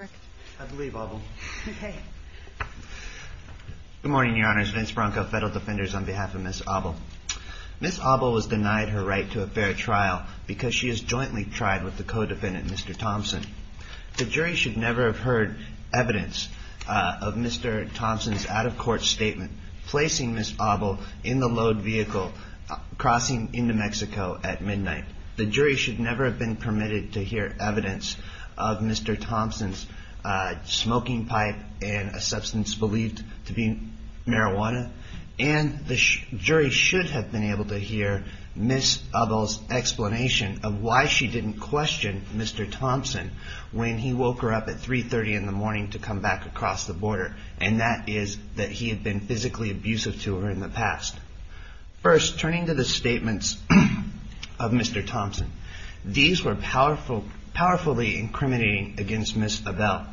Good morning, Your Honors. Vince Bronco, Federal Defenders, on behalf of Ms. Auble. Ms. Auble was denied her right to a fair trial because she has jointly tried with the co-defendant, Mr. Thompson. The jury should never have heard evidence of Mr. Thompson's out-of-court statement placing Ms. Auble in the load vehicle crossing into Mexico at midnight. The jury should never have been permitted to hear evidence of Mr. Thompson's smoking pipe and a substance believed to be marijuana. And the jury should have been able to hear Ms. Auble's explanation of why she didn't question Mr. Thompson when he woke her up at 3.30 in the morning to come back across the border, and that is that he had been physically abusive to her in the morning. These were powerfully incriminating against Ms. Auble.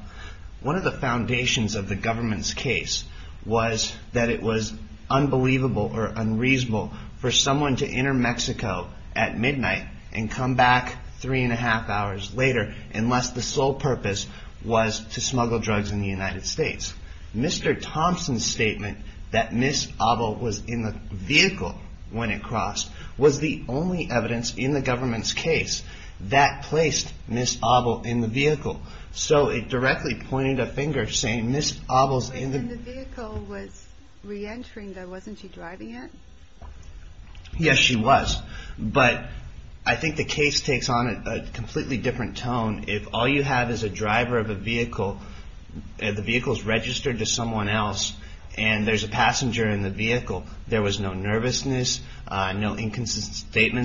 One of the foundations of the government's case was that it was unbelievable or unreasonable for someone to enter Mexico at midnight and come back 3.30 hours later unless the sole purpose was to smuggle drugs in the United States. Mr. Thompson's statement that Ms. Auble was in the vehicle when it crossed was the only evidence in the government's case that placed Ms. Auble in the vehicle. So it directly pointed a finger saying Ms. Auble's in the vehicle was re-entering there. Wasn't she driving it? Yes, she was. But I think the case takes on a completely different tone. If all you have is a driver of a vehicle, the vehicle's registered to inconsistent statements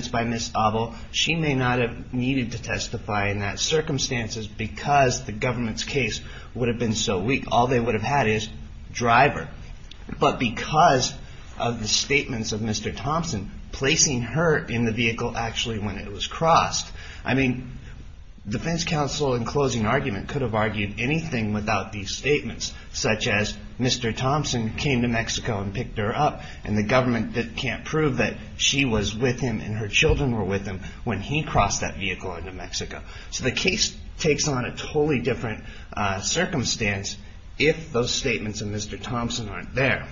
by Ms. Auble. She may not have needed to testify in that circumstances because the government's case would have been so weak. All they would have had is driver. But because of the statements of Mr. Thompson, placing her in the vehicle actually when it was crossed, I mean, defense counsel in closing argument could have argued anything without these statements, such as Mr. Thompson came to Mexico and picked her up, and the government can't prove that she was with him and her children were with him when he crossed that vehicle in New Mexico. So the case takes on a totally different circumstance if those statements of Mr. Thompson aren't there.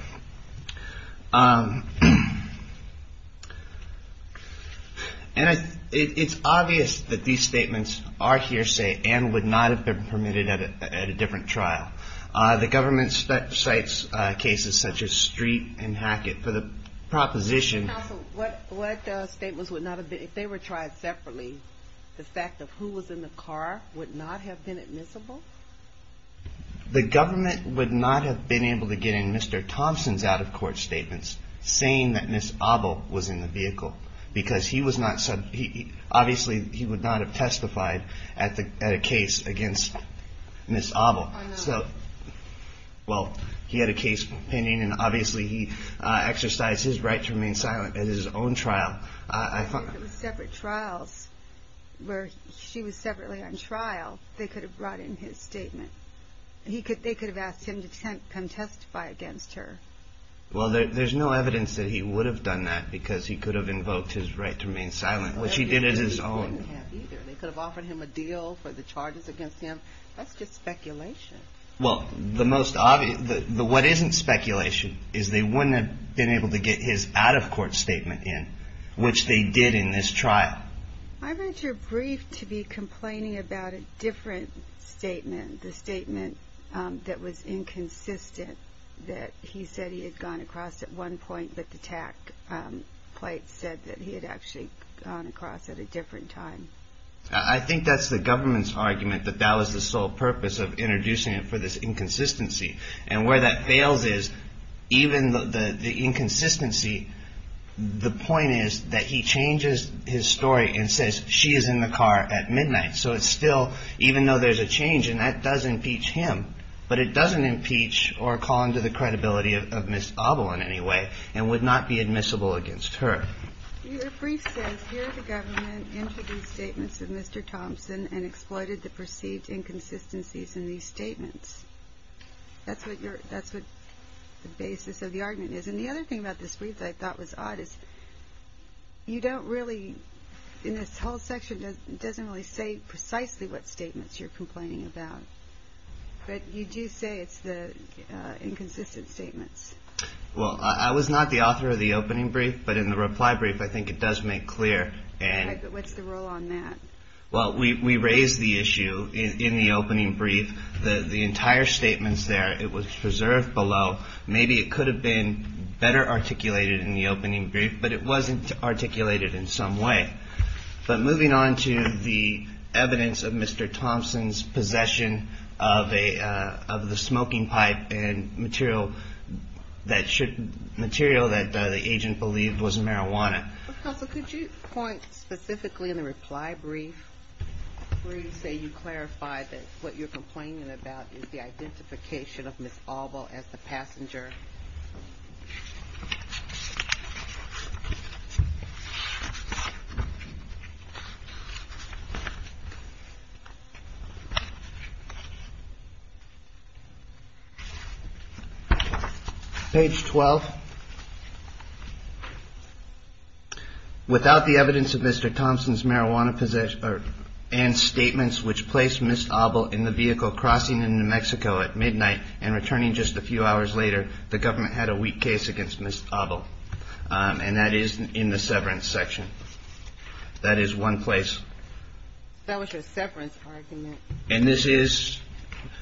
And it's obvious that these statements are hearsay and would not have been permitted at a different trial. The government cites cases such as this. Counsel, what statements would not have been, if they were tried separately, the fact of who was in the car would not have been admissible? The government would not have been able to get in Mr. Thompson's out-of-court statements saying that Ms. Auble was in the vehicle because he was not, obviously he would not have testified at a case against Ms. Auble. I know. Also, well, he had a case pending and obviously he exercised his right to remain silent at his own trial. If it was separate trials where she was separately on trial, they could have brought in his statement. They could have asked him to come testify against her. Well, there's no evidence that he would have done that because he could have invoked his right to remain silent, which he did at his own. They could have offered him a deal for the charges against him. That's just speculation. Well, the most obvious, what isn't speculation is they wouldn't have been able to get his out-of-court statement in, which they did in this trial. I read your brief to be complaining about a different statement, the statement that was inconsistent, that he said he had gone across at one point, but the TAC plate said that he had actually gone across at a different time. I think that's the government's argument that that was the sole purpose of introducing it for this inconsistency. And where that fails is even the inconsistency, the point is that he changes his story and says she is in the car at midnight. So it's still, even though there's a change and that does impeach him, but it doesn't impeach or call into the credibility of Ms. Auble in any way and would not be admissible against her. Your brief says, here the government introduced statements of Mr. Thompson and exploited the perceived inconsistencies in these statements. That's what the basis of the argument is. And the other thing about this brief that I thought was odd is you don't really, in this whole section, it doesn't really say precisely what statements you're complaining about, but you do say it's the inconsistent statements. Well, I was not the author of the opening brief, but in the reply brief, I think it does make clear. What's the rule on that? Well, we raised the issue in the opening brief, the entire statements there, it was preserved below. Maybe it could have been better articulated in the opening brief, but it wasn't articulated in some way. But moving on to the evidence of Mr. Thompson's possession of the smoking pipe and material that the agent believed was marijuana. Counsel, could you point specifically in the reply brief where you say you clarify that what you're complaining about is the identification of Ms. Auble as the passenger? Page 12. Without the evidence of Mr. Thompson's marijuana possession and statements which placed Ms. Auble as the passenger, the government had a weak case against Ms. Auble, and that is in the severance section. That is one place. That was your severance argument. And this is,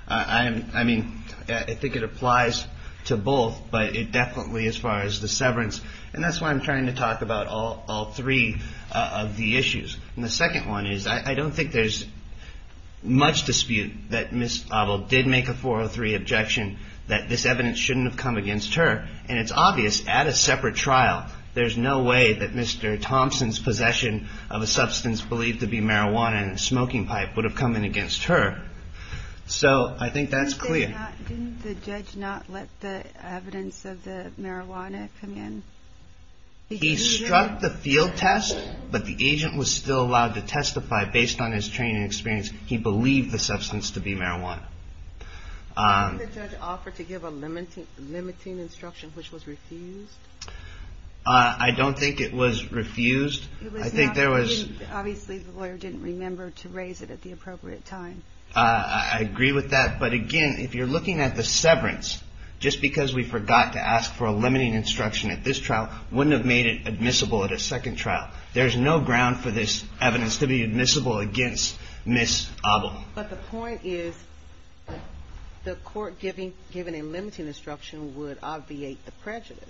I mean, I think it applies to both, but it definitely, as far as the severance, and that's why I'm trying to talk about all three of the issues. And the second one is I don't think there's much dispute that Ms. Auble did make a 403 objection that this evidence shouldn't have come against her, and it's obvious at a separate trial there's no way that Mr. Thompson's possession of a substance believed to be marijuana and a smoking pipe would have come in against her. So I think that's clear. Didn't the judge not let the evidence of the marijuana come in? He struck the field test, but the agent was still allowed to testify based on his training and experience. He believed the substance to be marijuana. Didn't the judge offer to give a limiting instruction, which was refused? I don't think it was refused. I think there was... Obviously the lawyer didn't remember to raise it at the appropriate time. I agree with that, but again, if you're looking at the severance, just because we forgot to ask for a limiting instruction at this trial wouldn't have made it admissible at a second trial. There's no ground for this evidence to be admissible against Ms. Auble. But the point is the court giving a limiting instruction would obviate the prejudice.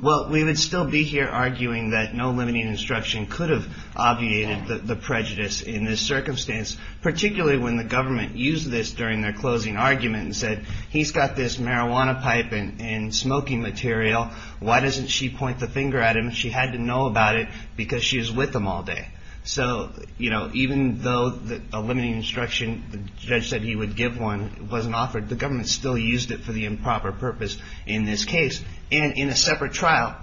Well, we would still be here arguing that no limiting instruction could have obviated the prejudice in this circumstance, particularly when the government used this during their closing argument and said, he's got this marijuana pipe and smoking material. Why doesn't she point the finger at him? She had to know about it because she was with him all day. So even though a limiting instruction, the judge said he would give one, it wasn't offered, the government still used it for the improper purpose in this case. And in a separate trial,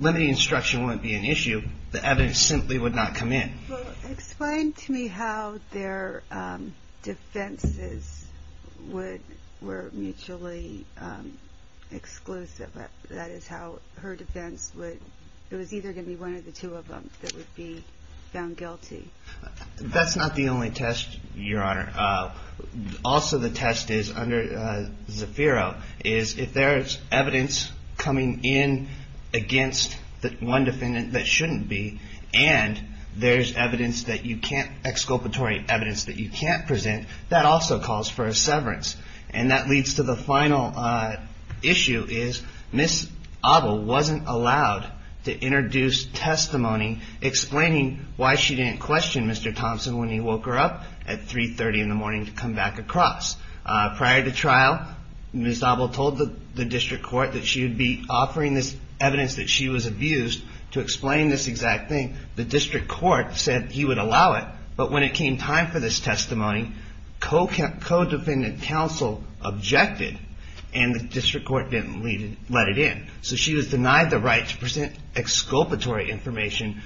limiting instruction wouldn't be an issue. The evidence simply would not come in. Well, explain to me how their defenses were mutually exclusive, that is how her defense would, it was either going to be one of the two of them that would be found guilty. That's not the only test, Your Honor. Also the test is under Zafiro, is if there's evidence coming in against one defendant that shouldn't be, and there's evidence that you can't, exculpatory evidence that you can't present, that also calls for a severance. And that leads to the final issue is Ms. Abel wasn't allowed to introduce testimony explaining why she didn't question Mr. Thompson when he woke her up at 3.30 in the morning to come back across. Prior to trial, Ms. Abel told the district court that she would be offering this evidence that she was abused to explain this exact thing. The district court said he would allow it. But when it came time for this testimony, co-defendant counsel objected, and the district court didn't let it in. So she was denied the right to present exculpatory information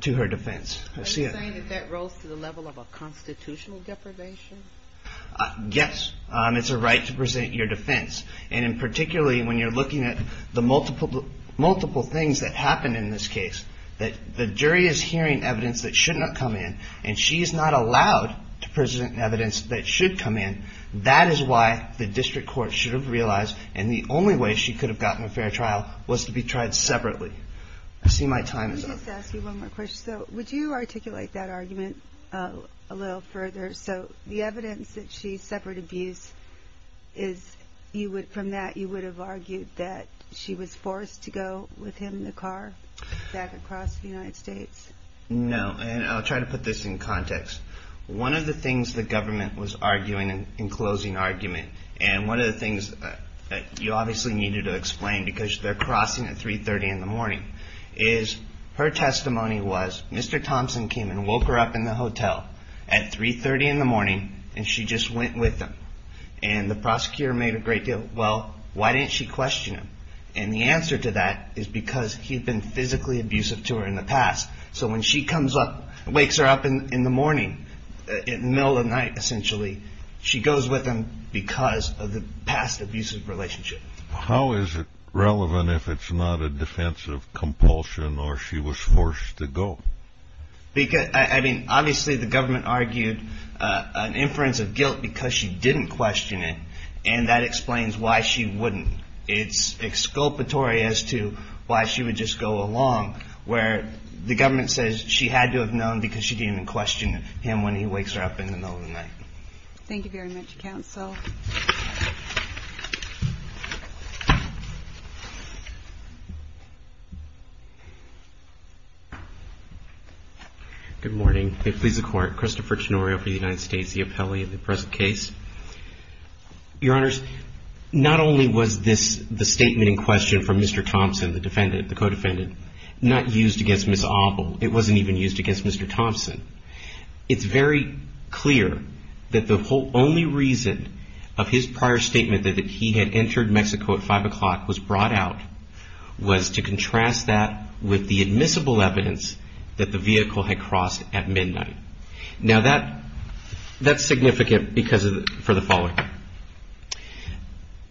to her defense. Are you saying that that rose to the level of a constitutional deprivation? Yes, it's a right to present your defense, and in particularly when you're looking at the multiple things that happened in this case, that the jury is hearing evidence that should not come in, and she's not allowed to present evidence that should come in. That is why the district court should have realized, and the only way she could have gotten a fair trial was to be tried separately. I see my time is up. Let me just ask you one more question. Would you articulate that argument a little further? So the evidence that she's separate abuse, from that you would have argued that she was forced to go with him in the car back across the United States? No, and I'll try to put this in context. One of the things the government was arguing in closing argument, and one of the things you obviously needed to explain because they're crossing at 3.30 in the morning, is her testimony was Mr. Thompson came and woke her up in the hotel at 3.30 in the morning, and she just went with him. And the prosecutor made a great deal, well, why didn't she question him? And the answer to that is because he'd been physically abusive to her in the past. So when she comes up, wakes her up in the morning, in the middle of the night essentially, she goes with him because of the past abusive relationship. How is it relevant if it's not a defense of compulsion or she was forced to go? Because, I mean, obviously the government argued an inference of guilt because she didn't question it, and that explains why she wouldn't. It's exculpatory as to why she would just go along, where the government says she had to have known because she didn't even question him when he wakes her up in the middle of the night. Thank you very much, counsel. Good morning. May it please the Court. Christopher Chinorio for the United States, the appellee in the present case. Your Honors, not only was this the statement in question from Mr. Thompson, the defendant, the co-defendant, not used against Ms. Oppel, it wasn't even used against Mr. Thompson. It's very clear that the only reason of his prior statement that he had entered Mexico at 5 o'clock was brought out was to contrast that with the admissible evidence that the vehicle had crossed at midnight. Now that's significant because of, for the following,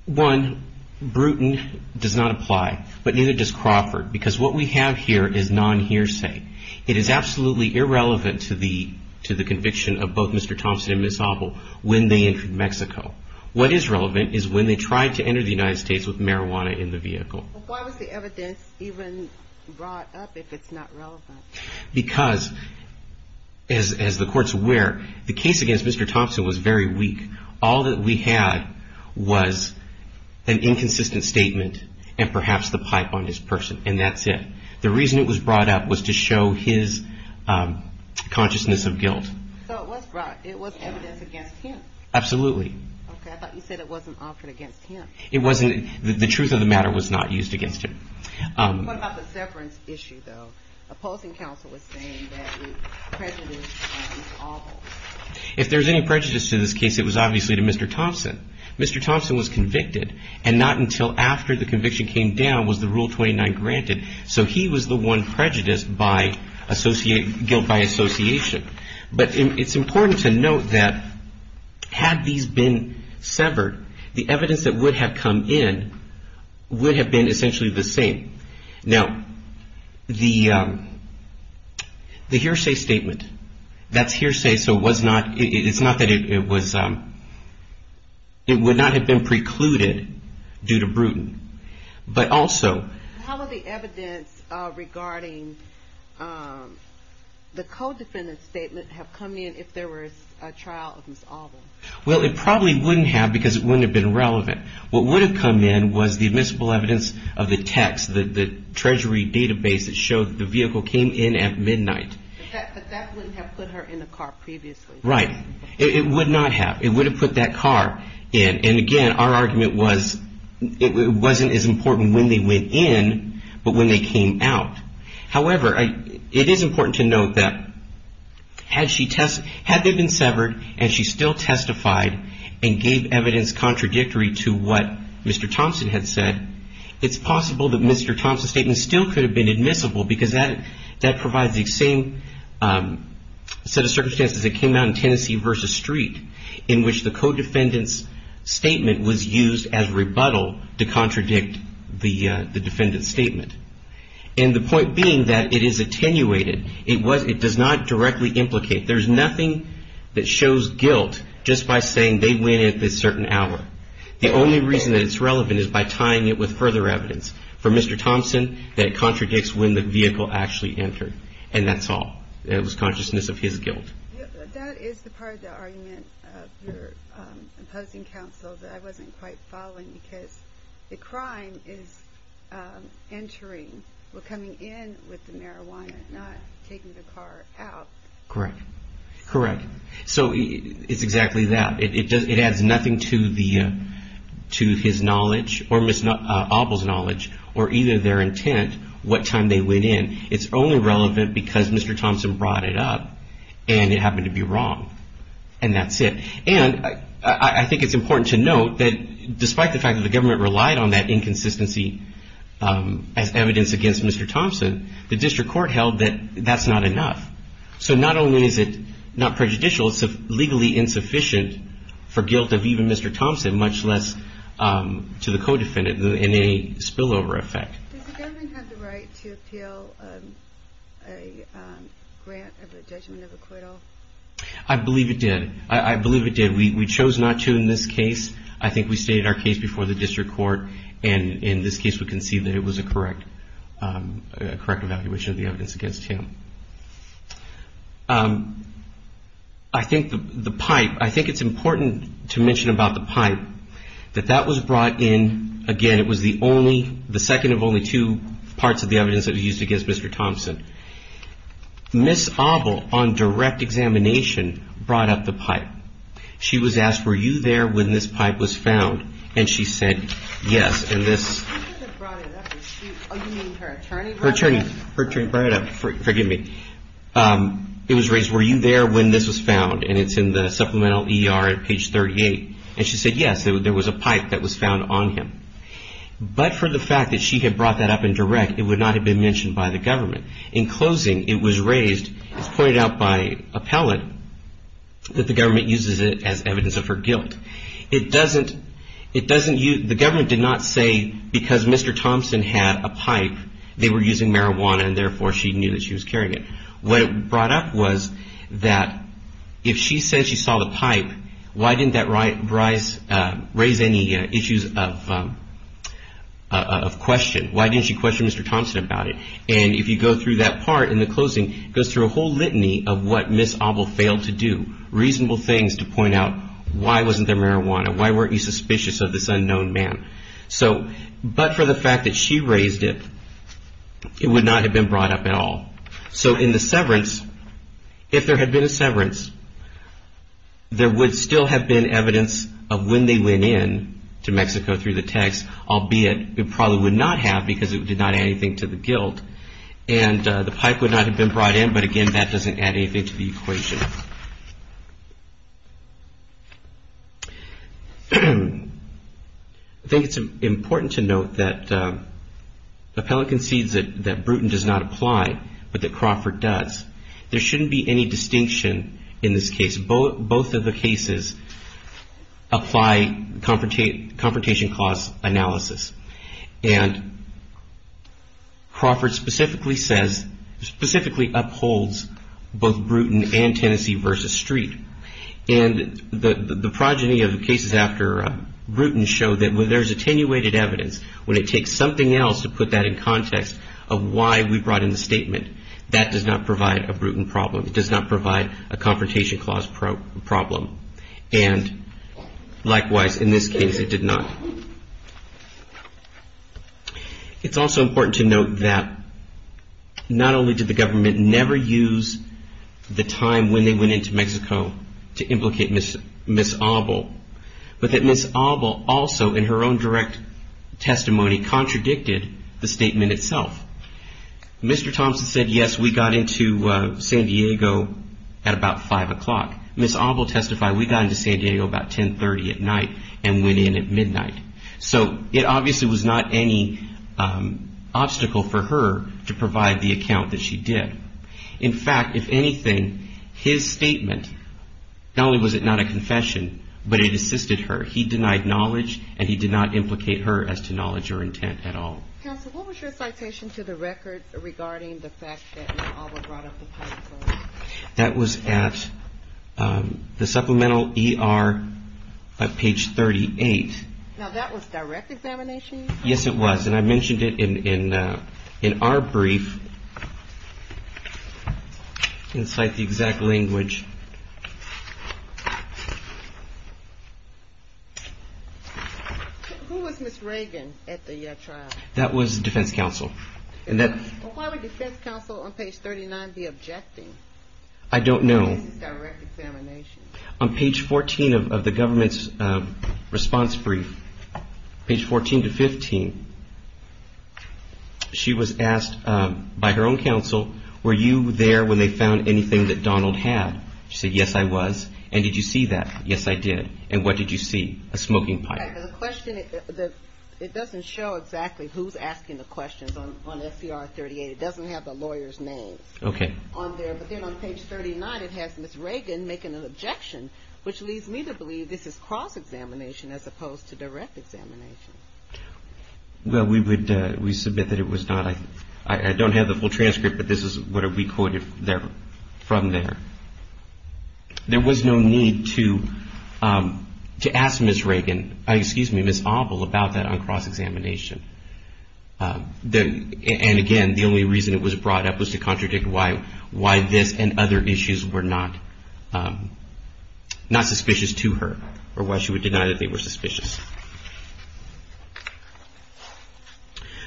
one, Bruton does not apply, but neither does Crawford, because what we have here is non-hearsay. It is absolutely irrelevant to the conviction of both Mr. Thompson and Ms. Oppel when they entered Mexico. What is relevant is when they tried to enter the United States with marijuana in the vehicle. Why was the evidence even brought up if it's not relevant? Because, as the courts were, the case against Mr. Thompson was very weak. All that we had was an inconsistent statement and perhaps the pipe on his person, and that's it. The reason it was brought up was to show his consciousness of guilt. So it was brought, it was evidence against him? Absolutely. Okay, I thought you said it wasn't offered against him. It wasn't, the truth of the matter was not used against him. What about the severance issue, though? Opposing counsel was saying that the prejudice was awful. If there's any prejudice to this case, it was obviously to Mr. Thompson. Mr. Thompson was convicted, and not until after the conviction came down was the Rule 29 granted. So he was the one prejudiced by guilt by association. But it's important to note that had these been severed, the evidence that would have come in would have been essentially the same. Now, the hearsay statement, that's hearsay, so it was not, it's not that it was, it would not have been precluded due to Bruton. But also... How would the evidence regarding the co-defendant's statement have come in if there was a trial of Ms. Alba? Well, it probably wouldn't have because it wouldn't have been relevant. What would have come in was the admissible evidence of the text, the treasury database that showed the vehicle came in at midnight. But that wouldn't have put her in the car previously. Right. It would not have. It would have put that car in. And again, our argument was it wasn't as important when they went in, but when they came out. However, it is important to note that had she, had they been severed and she still testified and gave evidence contradictory to what Mr. Thompson had said, it's possible that Mr. Thompson's statement still could have been admissible because that provides the same set of circumstances that came out in Tennessee v. Street in which the co-defendant's statement was used as rebuttal to contradict the defendant's statement. And the point being that it is attenuated. It does not directly implicate. There's nothing that shows guilt just by saying they went in at this certain hour. The only reason that it's relevant is by tying it with further evidence for Mr. Thompson that contradicts when the vehicle actually entered. And that's all. It was consciousness of his guilt. That is the part of the argument of your opposing counsel that I wasn't quite following because the crime is entering or coming in with the marijuana, not taking the car out. Correct. Correct. So it's exactly that. It adds nothing to the, to his knowledge or Ms. Auble's knowledge or either their intent what time they went in. It's only relevant because Mr. Thompson brought it up and it happened to be wrong. And that's it. And I think it's important to note that despite the fact that the government relied on that inconsistency as evidence against Mr. Thompson, the district court held that that's not enough. So not only is it not prejudicial, it's legally insufficient for guilt of even Mr. Thompson, much less to the co-defendant in a spillover effect. Does the government have the right to appeal a grant of a judgment of acquittal? I believe it did. I believe it did. We chose not to in this case. I think we stated our case before the district court. And in this case, we can see that it was a correct, a correct evaluation of the evidence against him. I think the pipe, I think it's important to mention about the pipe that that was brought in. Again, it was the only, the second of only two parts of the evidence that was used against Mr. Thompson. Ms. Auble on direct examination brought up the pipe. She was asked, were you there when this pipe was found? And she said yes. Her attorney brought it up, forgive me. It was raised, were you there when this was found? And it's in the supplemental ER at page 38. And she said yes, there was a pipe that was found on him. But for the fact that she had brought that up in direct, it would not have been mentioned by the government. In closing, it was raised, pointed out by appellate, that the government uses it as evidence of her guilt. It doesn't, it doesn't, the government did not say because Mr. Thompson had a pipe, they were using marijuana and therefore she knew that she was carrying it. What it brought up was that if she said she saw the pipe, why didn't that raise any issues of question? Why didn't she question Mr. Thompson about it? And if you go through that part in the closing, it goes through a whole litany of what Ms. Thompson said about the use of their marijuana. Why weren't you suspicious of this unknown man? So, but for the fact that she raised it, it would not have been brought up at all. So in the severance, if there had been a severance, there would still have been evidence of when they went in to Mexico through the text, albeit it probably would not have because it did not add anything to the guilt. And the pipe would not have been brought in, but again, that doesn't add anything to the equation. I think it's important to note that appellate concedes that Bruton does not apply, but that Crawford does. There shouldn't be any distinction in this case. Both of the cases apply confrontation clause analysis. And Crawford specifically says, specifically upholds both Bruton and Tennessee versus Street. And the progeny of the cases after Bruton show that when there's attenuated evidence, when it takes something else to put that in context of why we brought in the statement, that does not provide a Bruton problem. It does not provide a confrontation clause problem. And likewise, in this case, it did not. It's also important to note that not only did the government never use the time when they went into Mexico to implicate Ms. Auble, but that Ms. Auble also in her own direct testimony contradicted the statement itself. Mr. Thompson said, yes, we got into San Diego at about 5 o'clock. Ms. Auble testified, we got into San Diego about 1030 at night and went in at midnight. So it obviously was not any obstacle for her to provide the account that she did. In fact, if anything, his statement, not only was it not a confession, but it assisted her. He denied knowledge and he did not implicate her as to knowledge or intent at all. Counsel, what was your citation to the records regarding the fact that Ms. Auble brought up the time zone? That was at the supplemental ER at page 38. Now, that was direct examination? Yes, it was. And I mentioned it in our brief inside the exact language. Who was Ms. Reagan at the trial? That was the defense counsel. Why would defense counsel on page 39 be objecting? I don't know. This is direct examination. On page 14 of the government's response brief, page 14 to 15, she was asked by her own counsel, were you there when they found anything that Donald had? She said, yes, I was. And did you see that? Yes, I did. And what did you see? A smoking pipe. It doesn't show exactly who's asking the questions on SCR 38. It doesn't have the lawyer's name on there. But then on page 39, it has Ms. Reagan making an objection, which leads me to believe this is cross-examination as opposed to direct examination. Well, we submit that it was not. I don't have the full transcript, but this is what we quoted from there. There was no need to ask Ms. Reagan, excuse me, Ms. Abel, about that on cross-examination. And, again, the only reason it was brought up was to contradict why this and other issues were not suspicious to her or why she would deny that they were suspicious.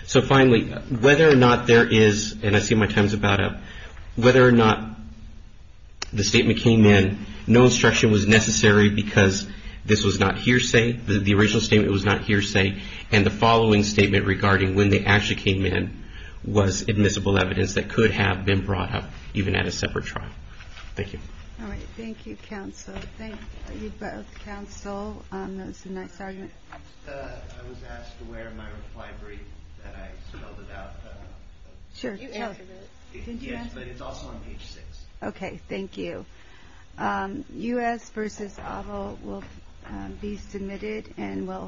So, finally, whether or not there is, and I see my time's about up, whether or not the statement came in, no instruction was necessary because this was not hearsay, the original statement was not hearsay, and the following statement regarding when they actually came in was admissible evidence that could have been brought up even at a separate trial. Thank you. All right. Thank you, counsel. Thank you both. Thank you, counsel. That was a nice argument. I was asked to wear my reply brief that I spelled out. Sure. Did you answer that? Yes, but it's also on page six. Okay. Thank you. U.S. v. Abel will be submitted and will...